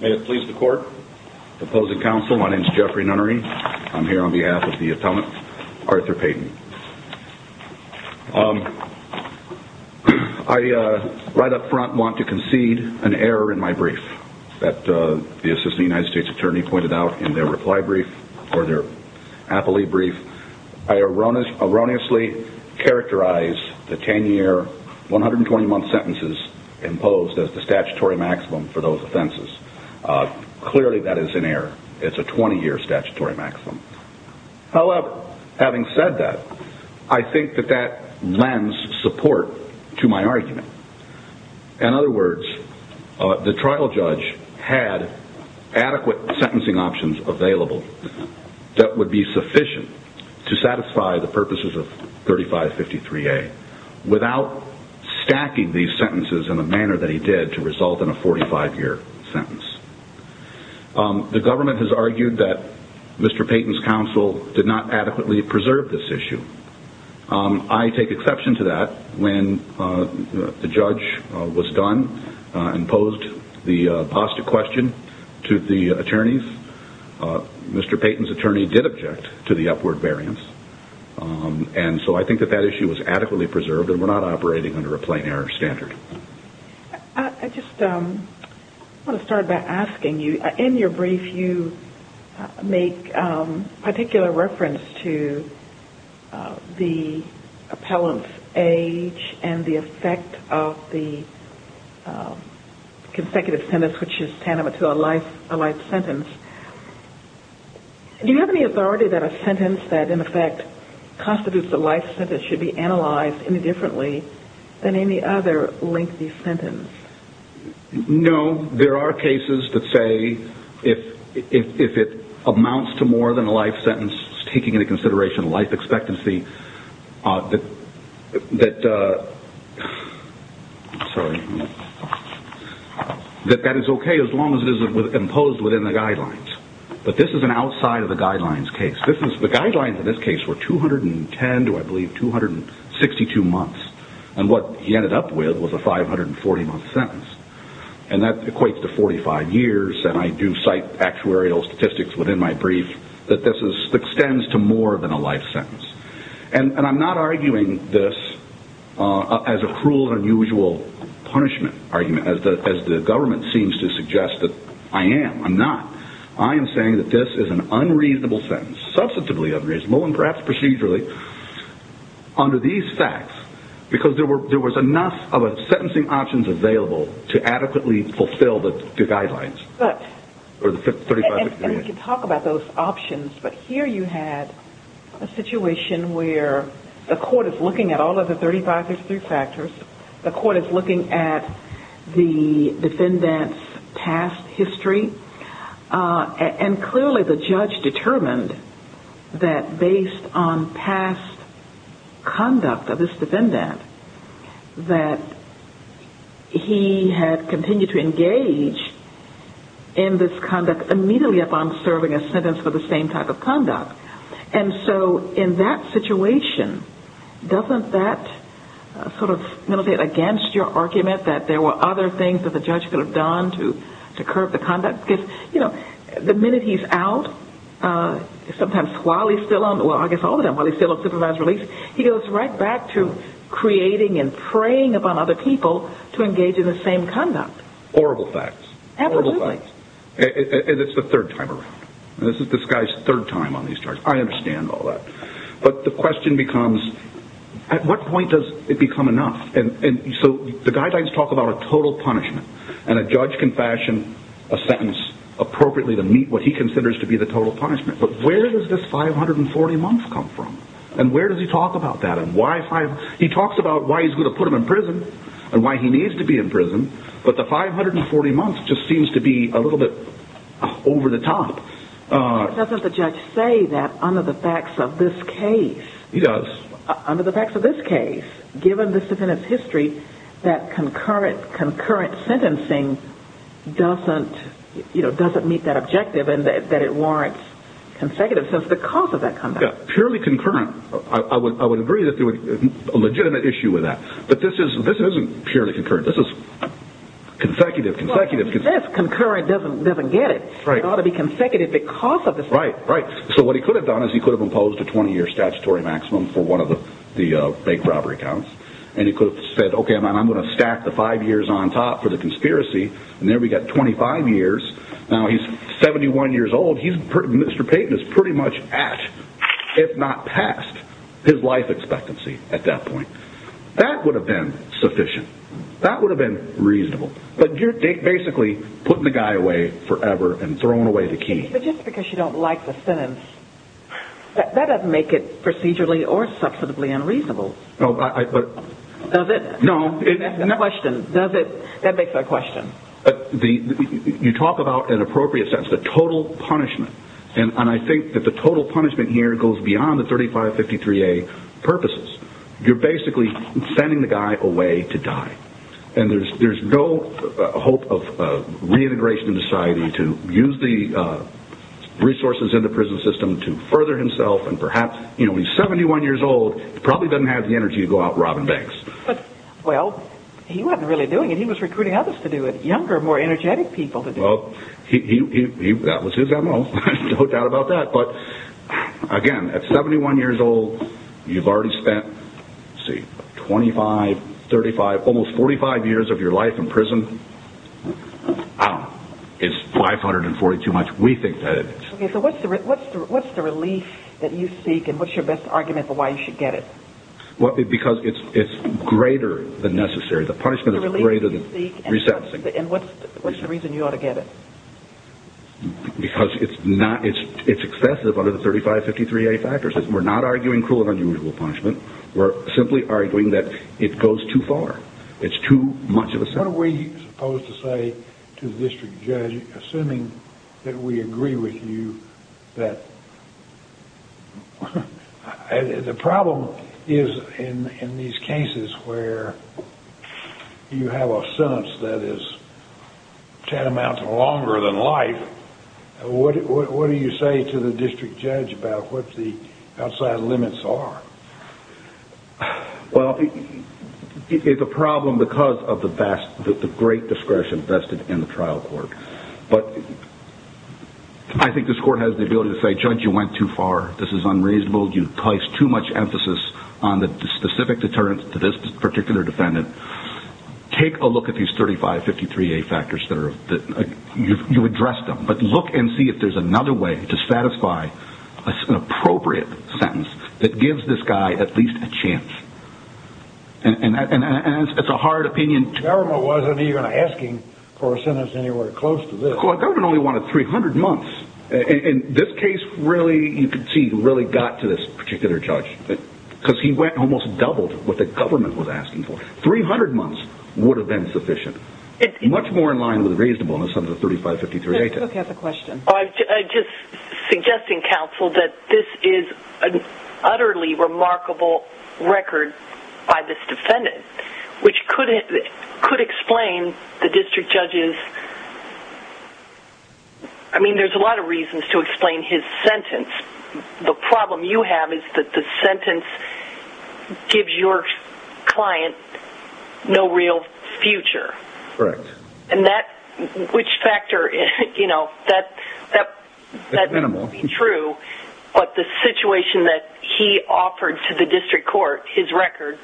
May it please the court. Opposing counsel, my name is Jeffrey Nunnery. I'm here on behalf front want to concede an error in my brief that the assistant United States attorney pointed out in their reply brief or their appellee brief. I erroneously characterize the 10 year, 120 month sentences imposed as the statutory maximum for those offenses. Clearly that is an error. It's a 20 year statutory maximum. However, having said that, I think that lends support to my argument. In other words, the trial judge had adequate sentencing options available that would be sufficient to satisfy the purposes of 3553A without stacking these sentences in a manner that he did to result in a 45 year sentence. The government has argued that Mr. Payton's counsel did not adequately preserve this issue. I take exception to that when the judge was done and posed the apostate question to the attorneys. Mr. Payton's attorney did object to the upward variance. And so I think that that issue was adequately preserved and we're not operating under a plain error standard. I just want to start by asking you, in your brief you make particular reference to the appellant's age and the effect of the consecutive sentence which is tantamount to a life sentence. Do you have any authority that a sentence that in effect constitutes a life sentence should be analyzed any differently than any other lengthy sentence? No. There are cases that say if it amounts to more than a life sentence, taking into consideration life expectancy, that that is okay as long as it is imposed within the guidelines. But this is an outside of the guidelines case. The guidelines in this case were 210, do I have 162 months? And what he ended up with was a 540 month sentence. And that equates to 45 years and I do cite actuarial statistics within my brief that this extends to more than a life sentence. And I'm not arguing this as a cruel and unusual punishment argument as the government seems to suggest that I am. I'm not. I am saying that this is an unreasonable sentence. Substantively unreasonable and perhaps procedurally under these facts because there was enough of a sentencing options available to adequately fulfill the guidelines. But, and we can talk about those options, but here you had a situation where the court is looking at all of the 3563 factors. The court is looking at the defendant's past history and clearly the judge determined that based on past conduct of this defendant that he had continued to engage in this conduct immediately upon serving a sentence for the same type of conduct. And so in that situation, doesn't that sort of meditate against your argument that there were other things that the judge could have done to curb the conduct? Because the minute he's out, sometimes while he's still on, well I guess all of them, while he's still on supervised release, he goes right back to creating and preying upon other people to engage in the same conduct. Horrible facts. Absolutely. Horrible facts. And it's the third time around. This is this guy's third time on these charges. I understand all that. But the question becomes at what point does it become enough? And so the guidelines talk about a total punishment and a judge can fashion a sentence appropriately to meet what he considers to be the total punishment. But where does this 540 months come from? And where does he talk about that? He talks about why he's going to put him in prison and why he needs to be in prison, but the 540 months just seems to be a little bit over the top. Doesn't the judge say that under the facts of this case? He does. Under the facts of this case, given the defendant's history, that concurrent sentencing doesn't meet that objective and that it warrants consecutive sentences because of that conduct. Purely concurrent. I would agree that there would be a legitimate issue with that. But this isn't purely concurrent. This is consecutive, consecutive, consecutive. Well, this concurrent doesn't get it. It ought to be consecutive because of the sentence. Right, right. So what he could have done is he could have imposed a 20-year statutory maximum for one of the fake robbery counts and he could have said, okay, I'm going to stack the five years on top for the conspiracy and there we got 25 years. Now he's 71 years old. Mr. Payton is pretty much at, if not past, his life expectancy at that point. That would have been sufficient. That would have been reasonable. But you're basically putting the guy away forever and throwing away the key. But just because you don't like the sentence, that doesn't make it procedurally or substantively unreasonable. No. Does it? No. That's the question. Does it? That makes the question. You talk about an appropriate sentence, the total punishment. And I think that the total punishment here goes beyond the 3553A purposes. You're basically sending the guy away to die. And there's no hope of reintegration in society to use the resources in the prison system to further himself. And perhaps when he's 71 years old, he probably doesn't have the energy to go out robbing banks. Well, he wasn't really doing it. He was recruiting others to do it. Younger, more energetic people to do it. Well, that was his M.O. No doubt about that. But again, at 71 years old, you've already spent 45 years of your life in prison. I don't know. Is 540 too much? We think that it is. So what's the relief that you seek and what's your best argument for why you should get it? Because it's greater than necessary. The punishment is greater than receptive. And what's the reason you ought to get it? Because it's excessive under the 3553A factors. We're not arguing cruel and unusual punishment. We're simply arguing that it goes too far. It's too much of a setback. What are we supposed to say to the district judge, assuming that we agree with you that the problem is in these cases where you have a sentence that is tantamount to longer than life? What do you say to the district judge about what the outside limits are? Well, it's a problem because of the great discretion vested in the trial court. But I think this court has the ability to say, Judge, you went too far. This is unreasonable. You placed too much emphasis on the specific deterrence to this particular defendant. Take a look at these 3553A factors. You addressed them. But look and see if there's another way to satisfy an appropriate sentence that gives this guy at least a chance. And it's a hard opinion. The government wasn't even asking for a sentence anywhere close to this. The government only wanted 300 months. And this case really, you can see, really got to this particular judge. Because he almost doubled what the government was asking for. 300 months would have been sufficient. Much more in line with the reasonableness of the 3553A test. Okay, I have a question. I'm just suggesting, counsel, that this is an utterly remarkable record by this defendant, which could explain the district judge's... I mean, there's a lot of reasons to explain his sentence. The problem you have is that the sentence gives your client no real future. Correct. And that, which factor, you know, that's true. But the situation that he offered to the district court, his record,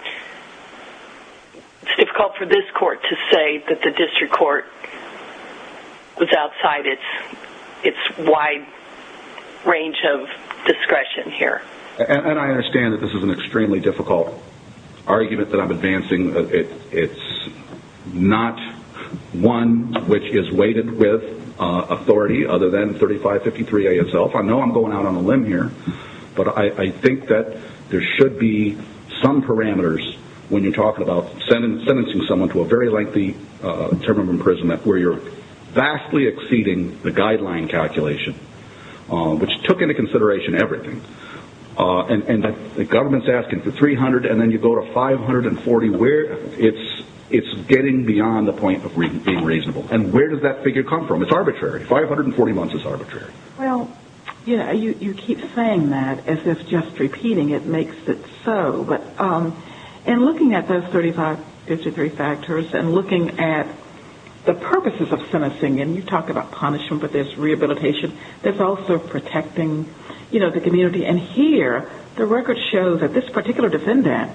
it's difficult for this court to say that the district court was outside its wide range of discretion here. And I understand that this is an extremely difficult argument that I'm advancing. It's not one which is weighted with authority other than 3553A itself. I know I'm going out on a limb here. But I think that there should be some parameters when you're talking about sentencing someone to a very lengthy term of imprisonment where you're vastly exceeding the guideline calculation, which took into consideration everything. And the government's asking for 300 and then you go to 540. It's getting beyond the point of being reasonable. And where does that figure come from? It's arbitrary. 540 months is arbitrary. Well, you know, you keep saying that as if just repeating it makes it so. But in looking at those 3553 factors and looking at the purposes of sentencing, and you talk about punishment, but there's rehabilitation, there's also protecting, you know, the community. And here, the record shows that this particular defendant,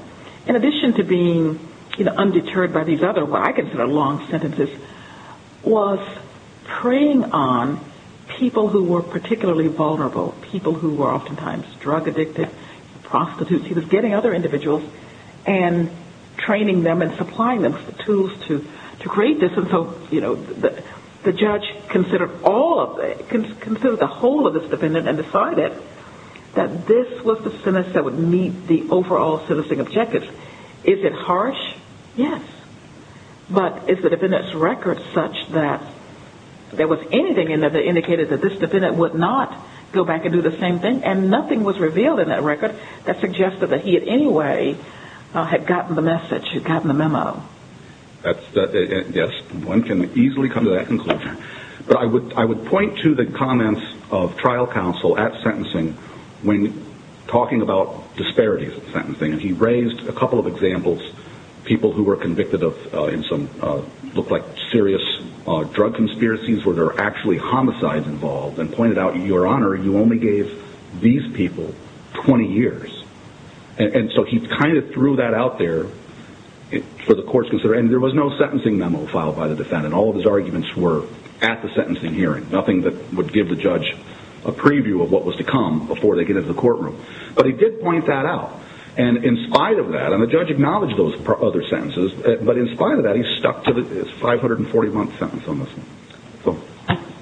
in addition to being undeterred by these other what I was praying on people who were particularly vulnerable, people who were oftentimes drug-addicted, prostitutes, he was getting other individuals and training them and supplying them with the tools to create this. And so, you know, the judge considered all of it, considered the whole of this defendant and decided that this was the sentence that would meet the overall sentencing objectives. Is it harsh? Yes. But is the defendant's record such that there was anything in there that indicated that this defendant would not go back and do the same thing? And nothing was revealed in that record that suggested that he in any way had gotten the message, had gotten the memo. Yes. One can easily come to that conclusion. But I would point to the comments of trial counsel at sentencing when talking about disparities in sentencing. And he raised a couple of examples, people who were convicted of in some look like serious drug conspiracies where there were actually homicides involved and pointed out, Your Honor, you only gave these people 20 years. And so he kind of threw that out there for the courts to consider. And there was no sentencing memo filed by the defendant. All of his arguments were at the sentencing hearing, nothing that would give the judge a preview of what was to come before they get into the courtroom. But he did point that out. And in spite of that, and the judge acknowledged those other sentences, but in spite of that, he stuck to his 540-month sentence on this one.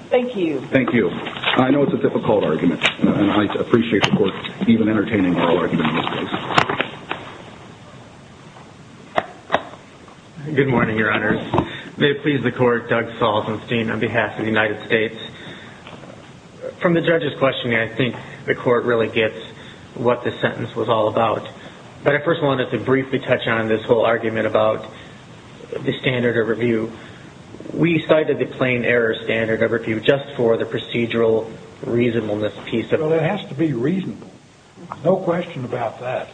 Thank you. Thank you. I know it's a difficult argument. And I appreciate the court even entertaining oral arguments in this case. Good morning, Your Honor. May it please the court, Doug Salzenstein on behalf of the United States. From the judge's questioning, I think the court really gets what the sentence was all about. But I first wanted to briefly touch on this whole argument about the standard of review. We cited the plain error standard of review just for the procedural reasonableness piece of it. Well, it has to be reasonable. No question about that.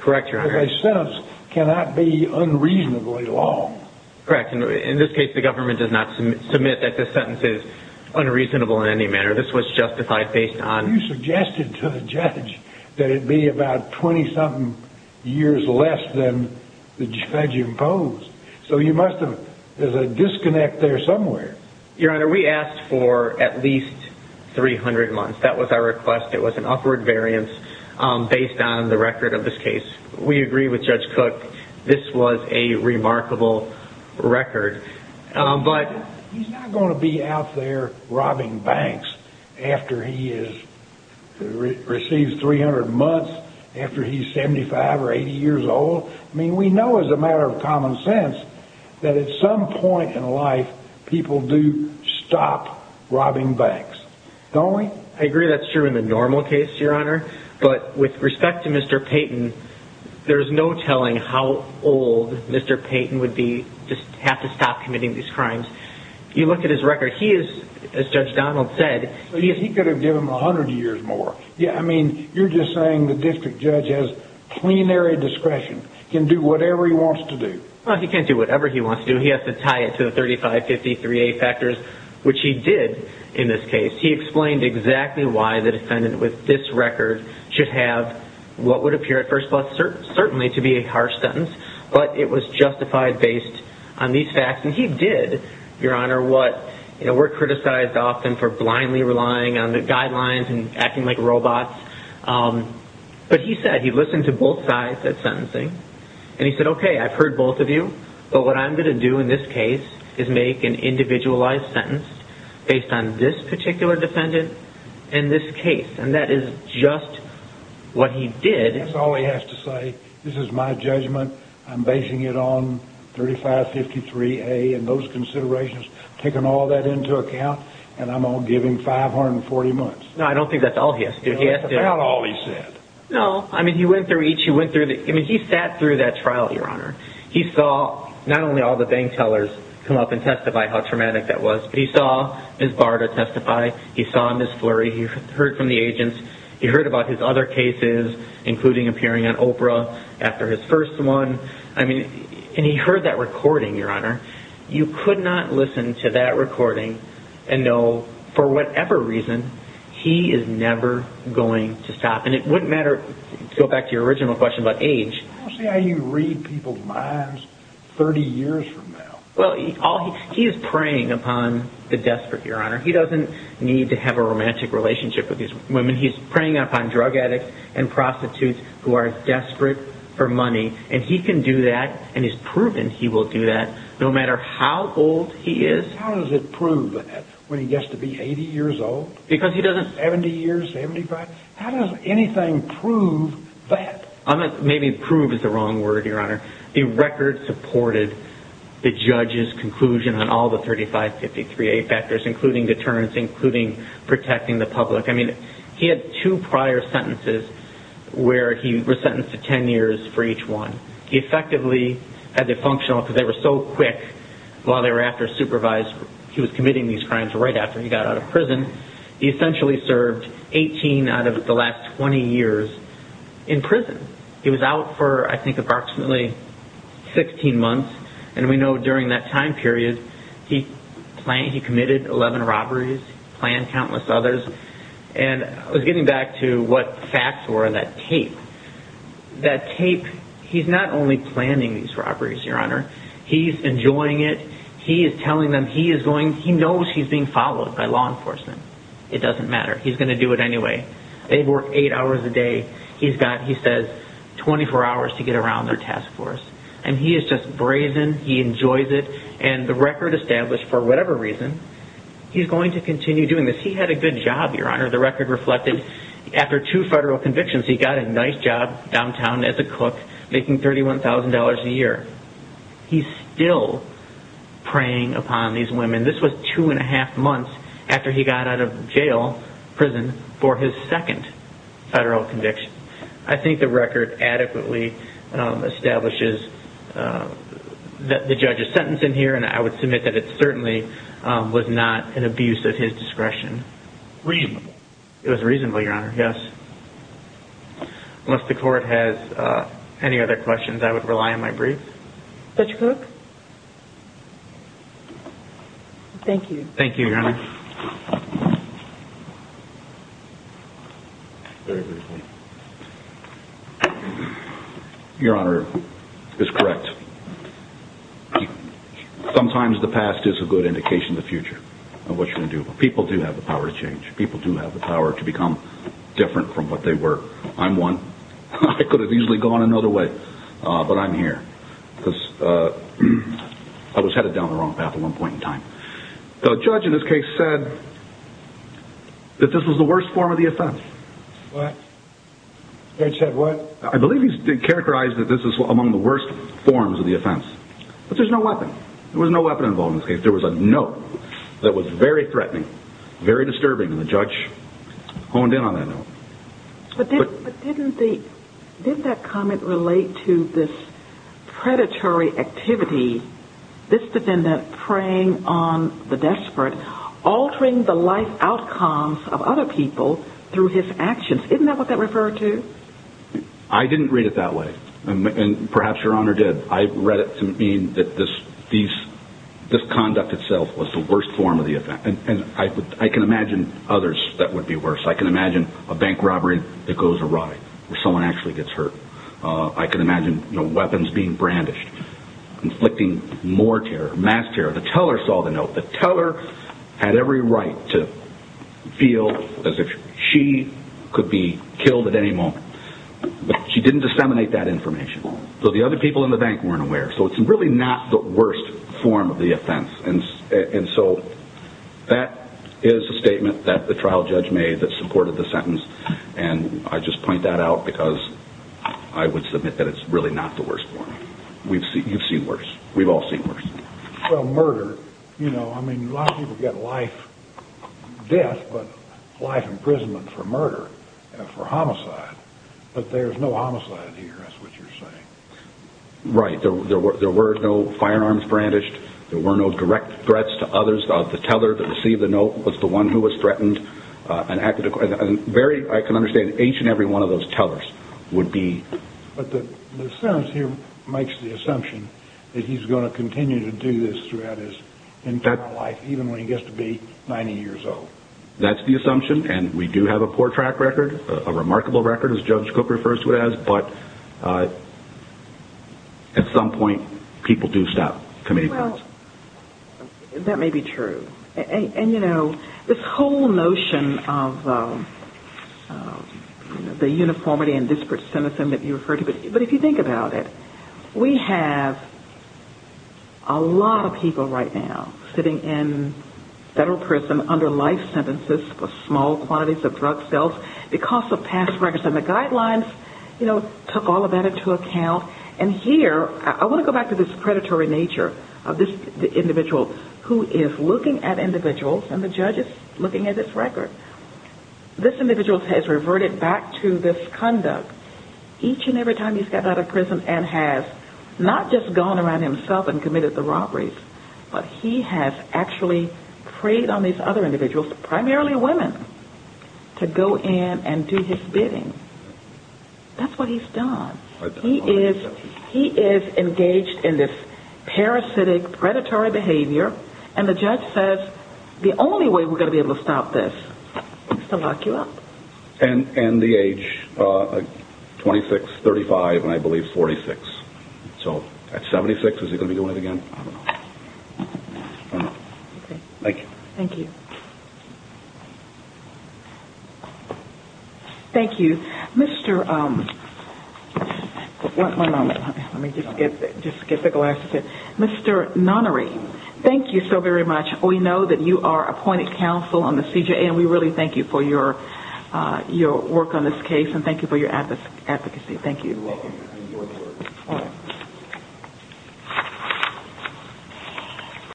Correct, Your Honor. Because a sentence cannot be unreasonably long. Correct. In this case, the government did not submit that the sentence is unreasonable in any manner. This was justified based on... ...about 20-something years less than the judge imposed. So you must have...there's a disconnect there somewhere. Your Honor, we asked for at least 300 months. That was our request. It was an upward variance based on the record of this case. We agree with Judge Cook. This was a remarkable record. He's not going to be out there robbing banks after he receives 300 months, after he's 75 or 80 years old. I mean, we know as a matter of common sense that at some point in life, people do stop robbing banks. Don't we? I agree that's true in the normal case, Your Honor. But with respect to Mr. Payton, there's no telling how old Mr. Payton would be, just have to stop committing these crimes. You look at his record. He is, as Judge Donald said... He could have given him 100 years more. Yeah, I mean, you're just saying the district judge has plenary discretion, can do whatever he wants to do. Well, he can't do whatever he wants to do. He has to tie it to the 3553A factors, which he did in this case. He explained exactly why the defendant with this record should have what would appear at first glance certainly to be a harsh sentence, but it was justified based on these facts. And he did, Your Honor, what we're criticized often for blindly relying on the guidelines and acting like robots. But he said he listened to both sides at sentencing. And he said, okay, I've heard both of you, but what I'm going to do in this case is make an individualized sentence based on this particular defendant and this case. And that is just what he did. That's all he has to say. This is my judgment. I'm basing it on 3553A and those considerations, taking all that into account, and I'm going to give him 540 months. No, I don't think that's all he has to do. That's about all he said. No, I mean, he went through each. He went through the... I mean, he sat through that trial, Your Honor. He saw not only all the bank tellers come up and testify how traumatic that was, but he saw Ms. Barta testify. He saw Ms. Flurry. He heard from the agents. He heard about his other cases, including appearing on Oprah after his first one. I mean, and he heard that recording, Your Honor. You could not listen to that recording and know for whatever reason he is never going to stop. And it wouldn't matter... Go back to your original question about age. I don't see how you read people's minds 30 years from now. Well, he is preying upon the desperate, Your Honor. He doesn't need to have a romantic relationship with these women. He's preying upon drug addicts and prostitutes who are desperate for money, and he can do that and is proven he will do that no matter how old he is. How does it prove that when he gets to be 80 years old? Because he doesn't... 70 years, 75? How does anything prove that? Maybe prove is the wrong word, Your Honor. The record supported the judge's conclusion on all the 3553A factors, including deterrence, including protecting the public. I mean, he had two prior sentences where he was sentenced to 10 years for each one. He effectively had the functional, because they were so quick while they were after a supervisor. He was committing these crimes right after he got out of prison. He essentially served 18 out of the last 20 years in prison. He was out for, I think, approximately 16 months. And we know during that time period, he committed 11 robberies, planned countless others. And I was getting back to what the facts were on that tape. That tape, he's not only planning these robberies, Your Honor. He's enjoying it. He is telling them he is going... He knows he's being followed by law enforcement. It doesn't matter. He's going to do it anyway. They work eight hours a day. He's got, he has eight hours to get around their task force. And he is just brazen. He enjoys it. And the record established, for whatever reason, he's going to continue doing this. He had a good job, Your Honor. The record reflected after two federal convictions, he got a nice job downtown as a cook, making $31,000 a year. He's still preying upon these women. This was two and a half months after he got out of jail, prison, for his second federal conviction. I think the record adequately establishes that the judge is sentencing here. And I would submit that it certainly was not an abuse of his discretion. Reasonable. It was reasonable, Your Honor. Yes. Unless the court has any other questions, I would rely on my brief. Thank you, Your Honor. Your Honor, it's correct. Sometimes the past is a good indication of the future of what you're going to do. People do have the power to change. People do have the power to become different from what they were. I'm one. I could have easily gone another way, but I'm here. I was headed down the wrong path at one point in time. The judge in this case said that this was the worst form of the offense. What? The judge said what? I believe he characterized that this is among the worst forms of the offense. But there's no weapon. There was no weapon involved in this case. There was a note that was very threatening, very disturbing, and the judge honed in on that note. But didn't that comment relate to this predatory activity, this defendant preying on the desperate, altering the life outcomes of other people through his actions? Isn't that what that referred to? I didn't read it that way. And perhaps Your Honor did. I read it to mean that this conduct itself was the worst form of the offense. And I can imagine others that would be worse. I can imagine a bank robbery that goes awry, where someone actually gets hurt. I can imagine weapons being brandished, inflicting more terror, mass terror. The teller saw the note. The teller had every right to feel as if she could be killed at any moment. But she didn't disseminate that information. So the other people in the bank weren't aware. So it's really not the worst form of the offense. And so that is a statement that the trial judge made that supported the sentence. And I just point that out because I would submit that it's really not the worst form. You've seen worse. We've all seen worse. Well, murder. A lot of people get life death, but life imprisonment for murder, for homicide. But there's no homicide here, that's what you're saying. Right. There were no firearms brandished. There were no direct threats to others. The teller that received the note was the one who was threatened. I can understand that each and every one of those tellers would be... But the sentence here makes the assumption that he's going to continue to do this throughout his entire life, even when he gets to be 90 years old. That's the assumption. And we do have a poor track record, a remarkable record as Judge At some point, people do stop committing crimes. Well, that may be true. And this whole notion of the uniformity and disparate sentencing that you referred to, but if you think about it, we have a lot of people right now sitting in federal prison under life sentences for small quantities of drug sales because of And here, I want to go back to this predatory nature of this individual who is looking at individuals and the judge is looking at his record. This individual has reverted back to this conduct each and every time he's gotten out of prison and has not just gone around himself and committed the robberies, but he has actually preyed on these other individuals, primarily women, to go in and do his bidding. That's what he's done. He is engaged in this parasitic, predatory behavior. And the judge says the only way we're going to be able to stop this is to lock you up. And the age, 26, 35, and I believe 46. So at 76, is he going to be doing it again? Thank you. Thank you. Thank you. Mr. One moment. Let me just get the glass. Mr. Nonary, thank you so very much. We know that you are appointed counsel on the CJA and we really thank you for your work on this case and thank you for your advocacy. Thank you. You're welcome.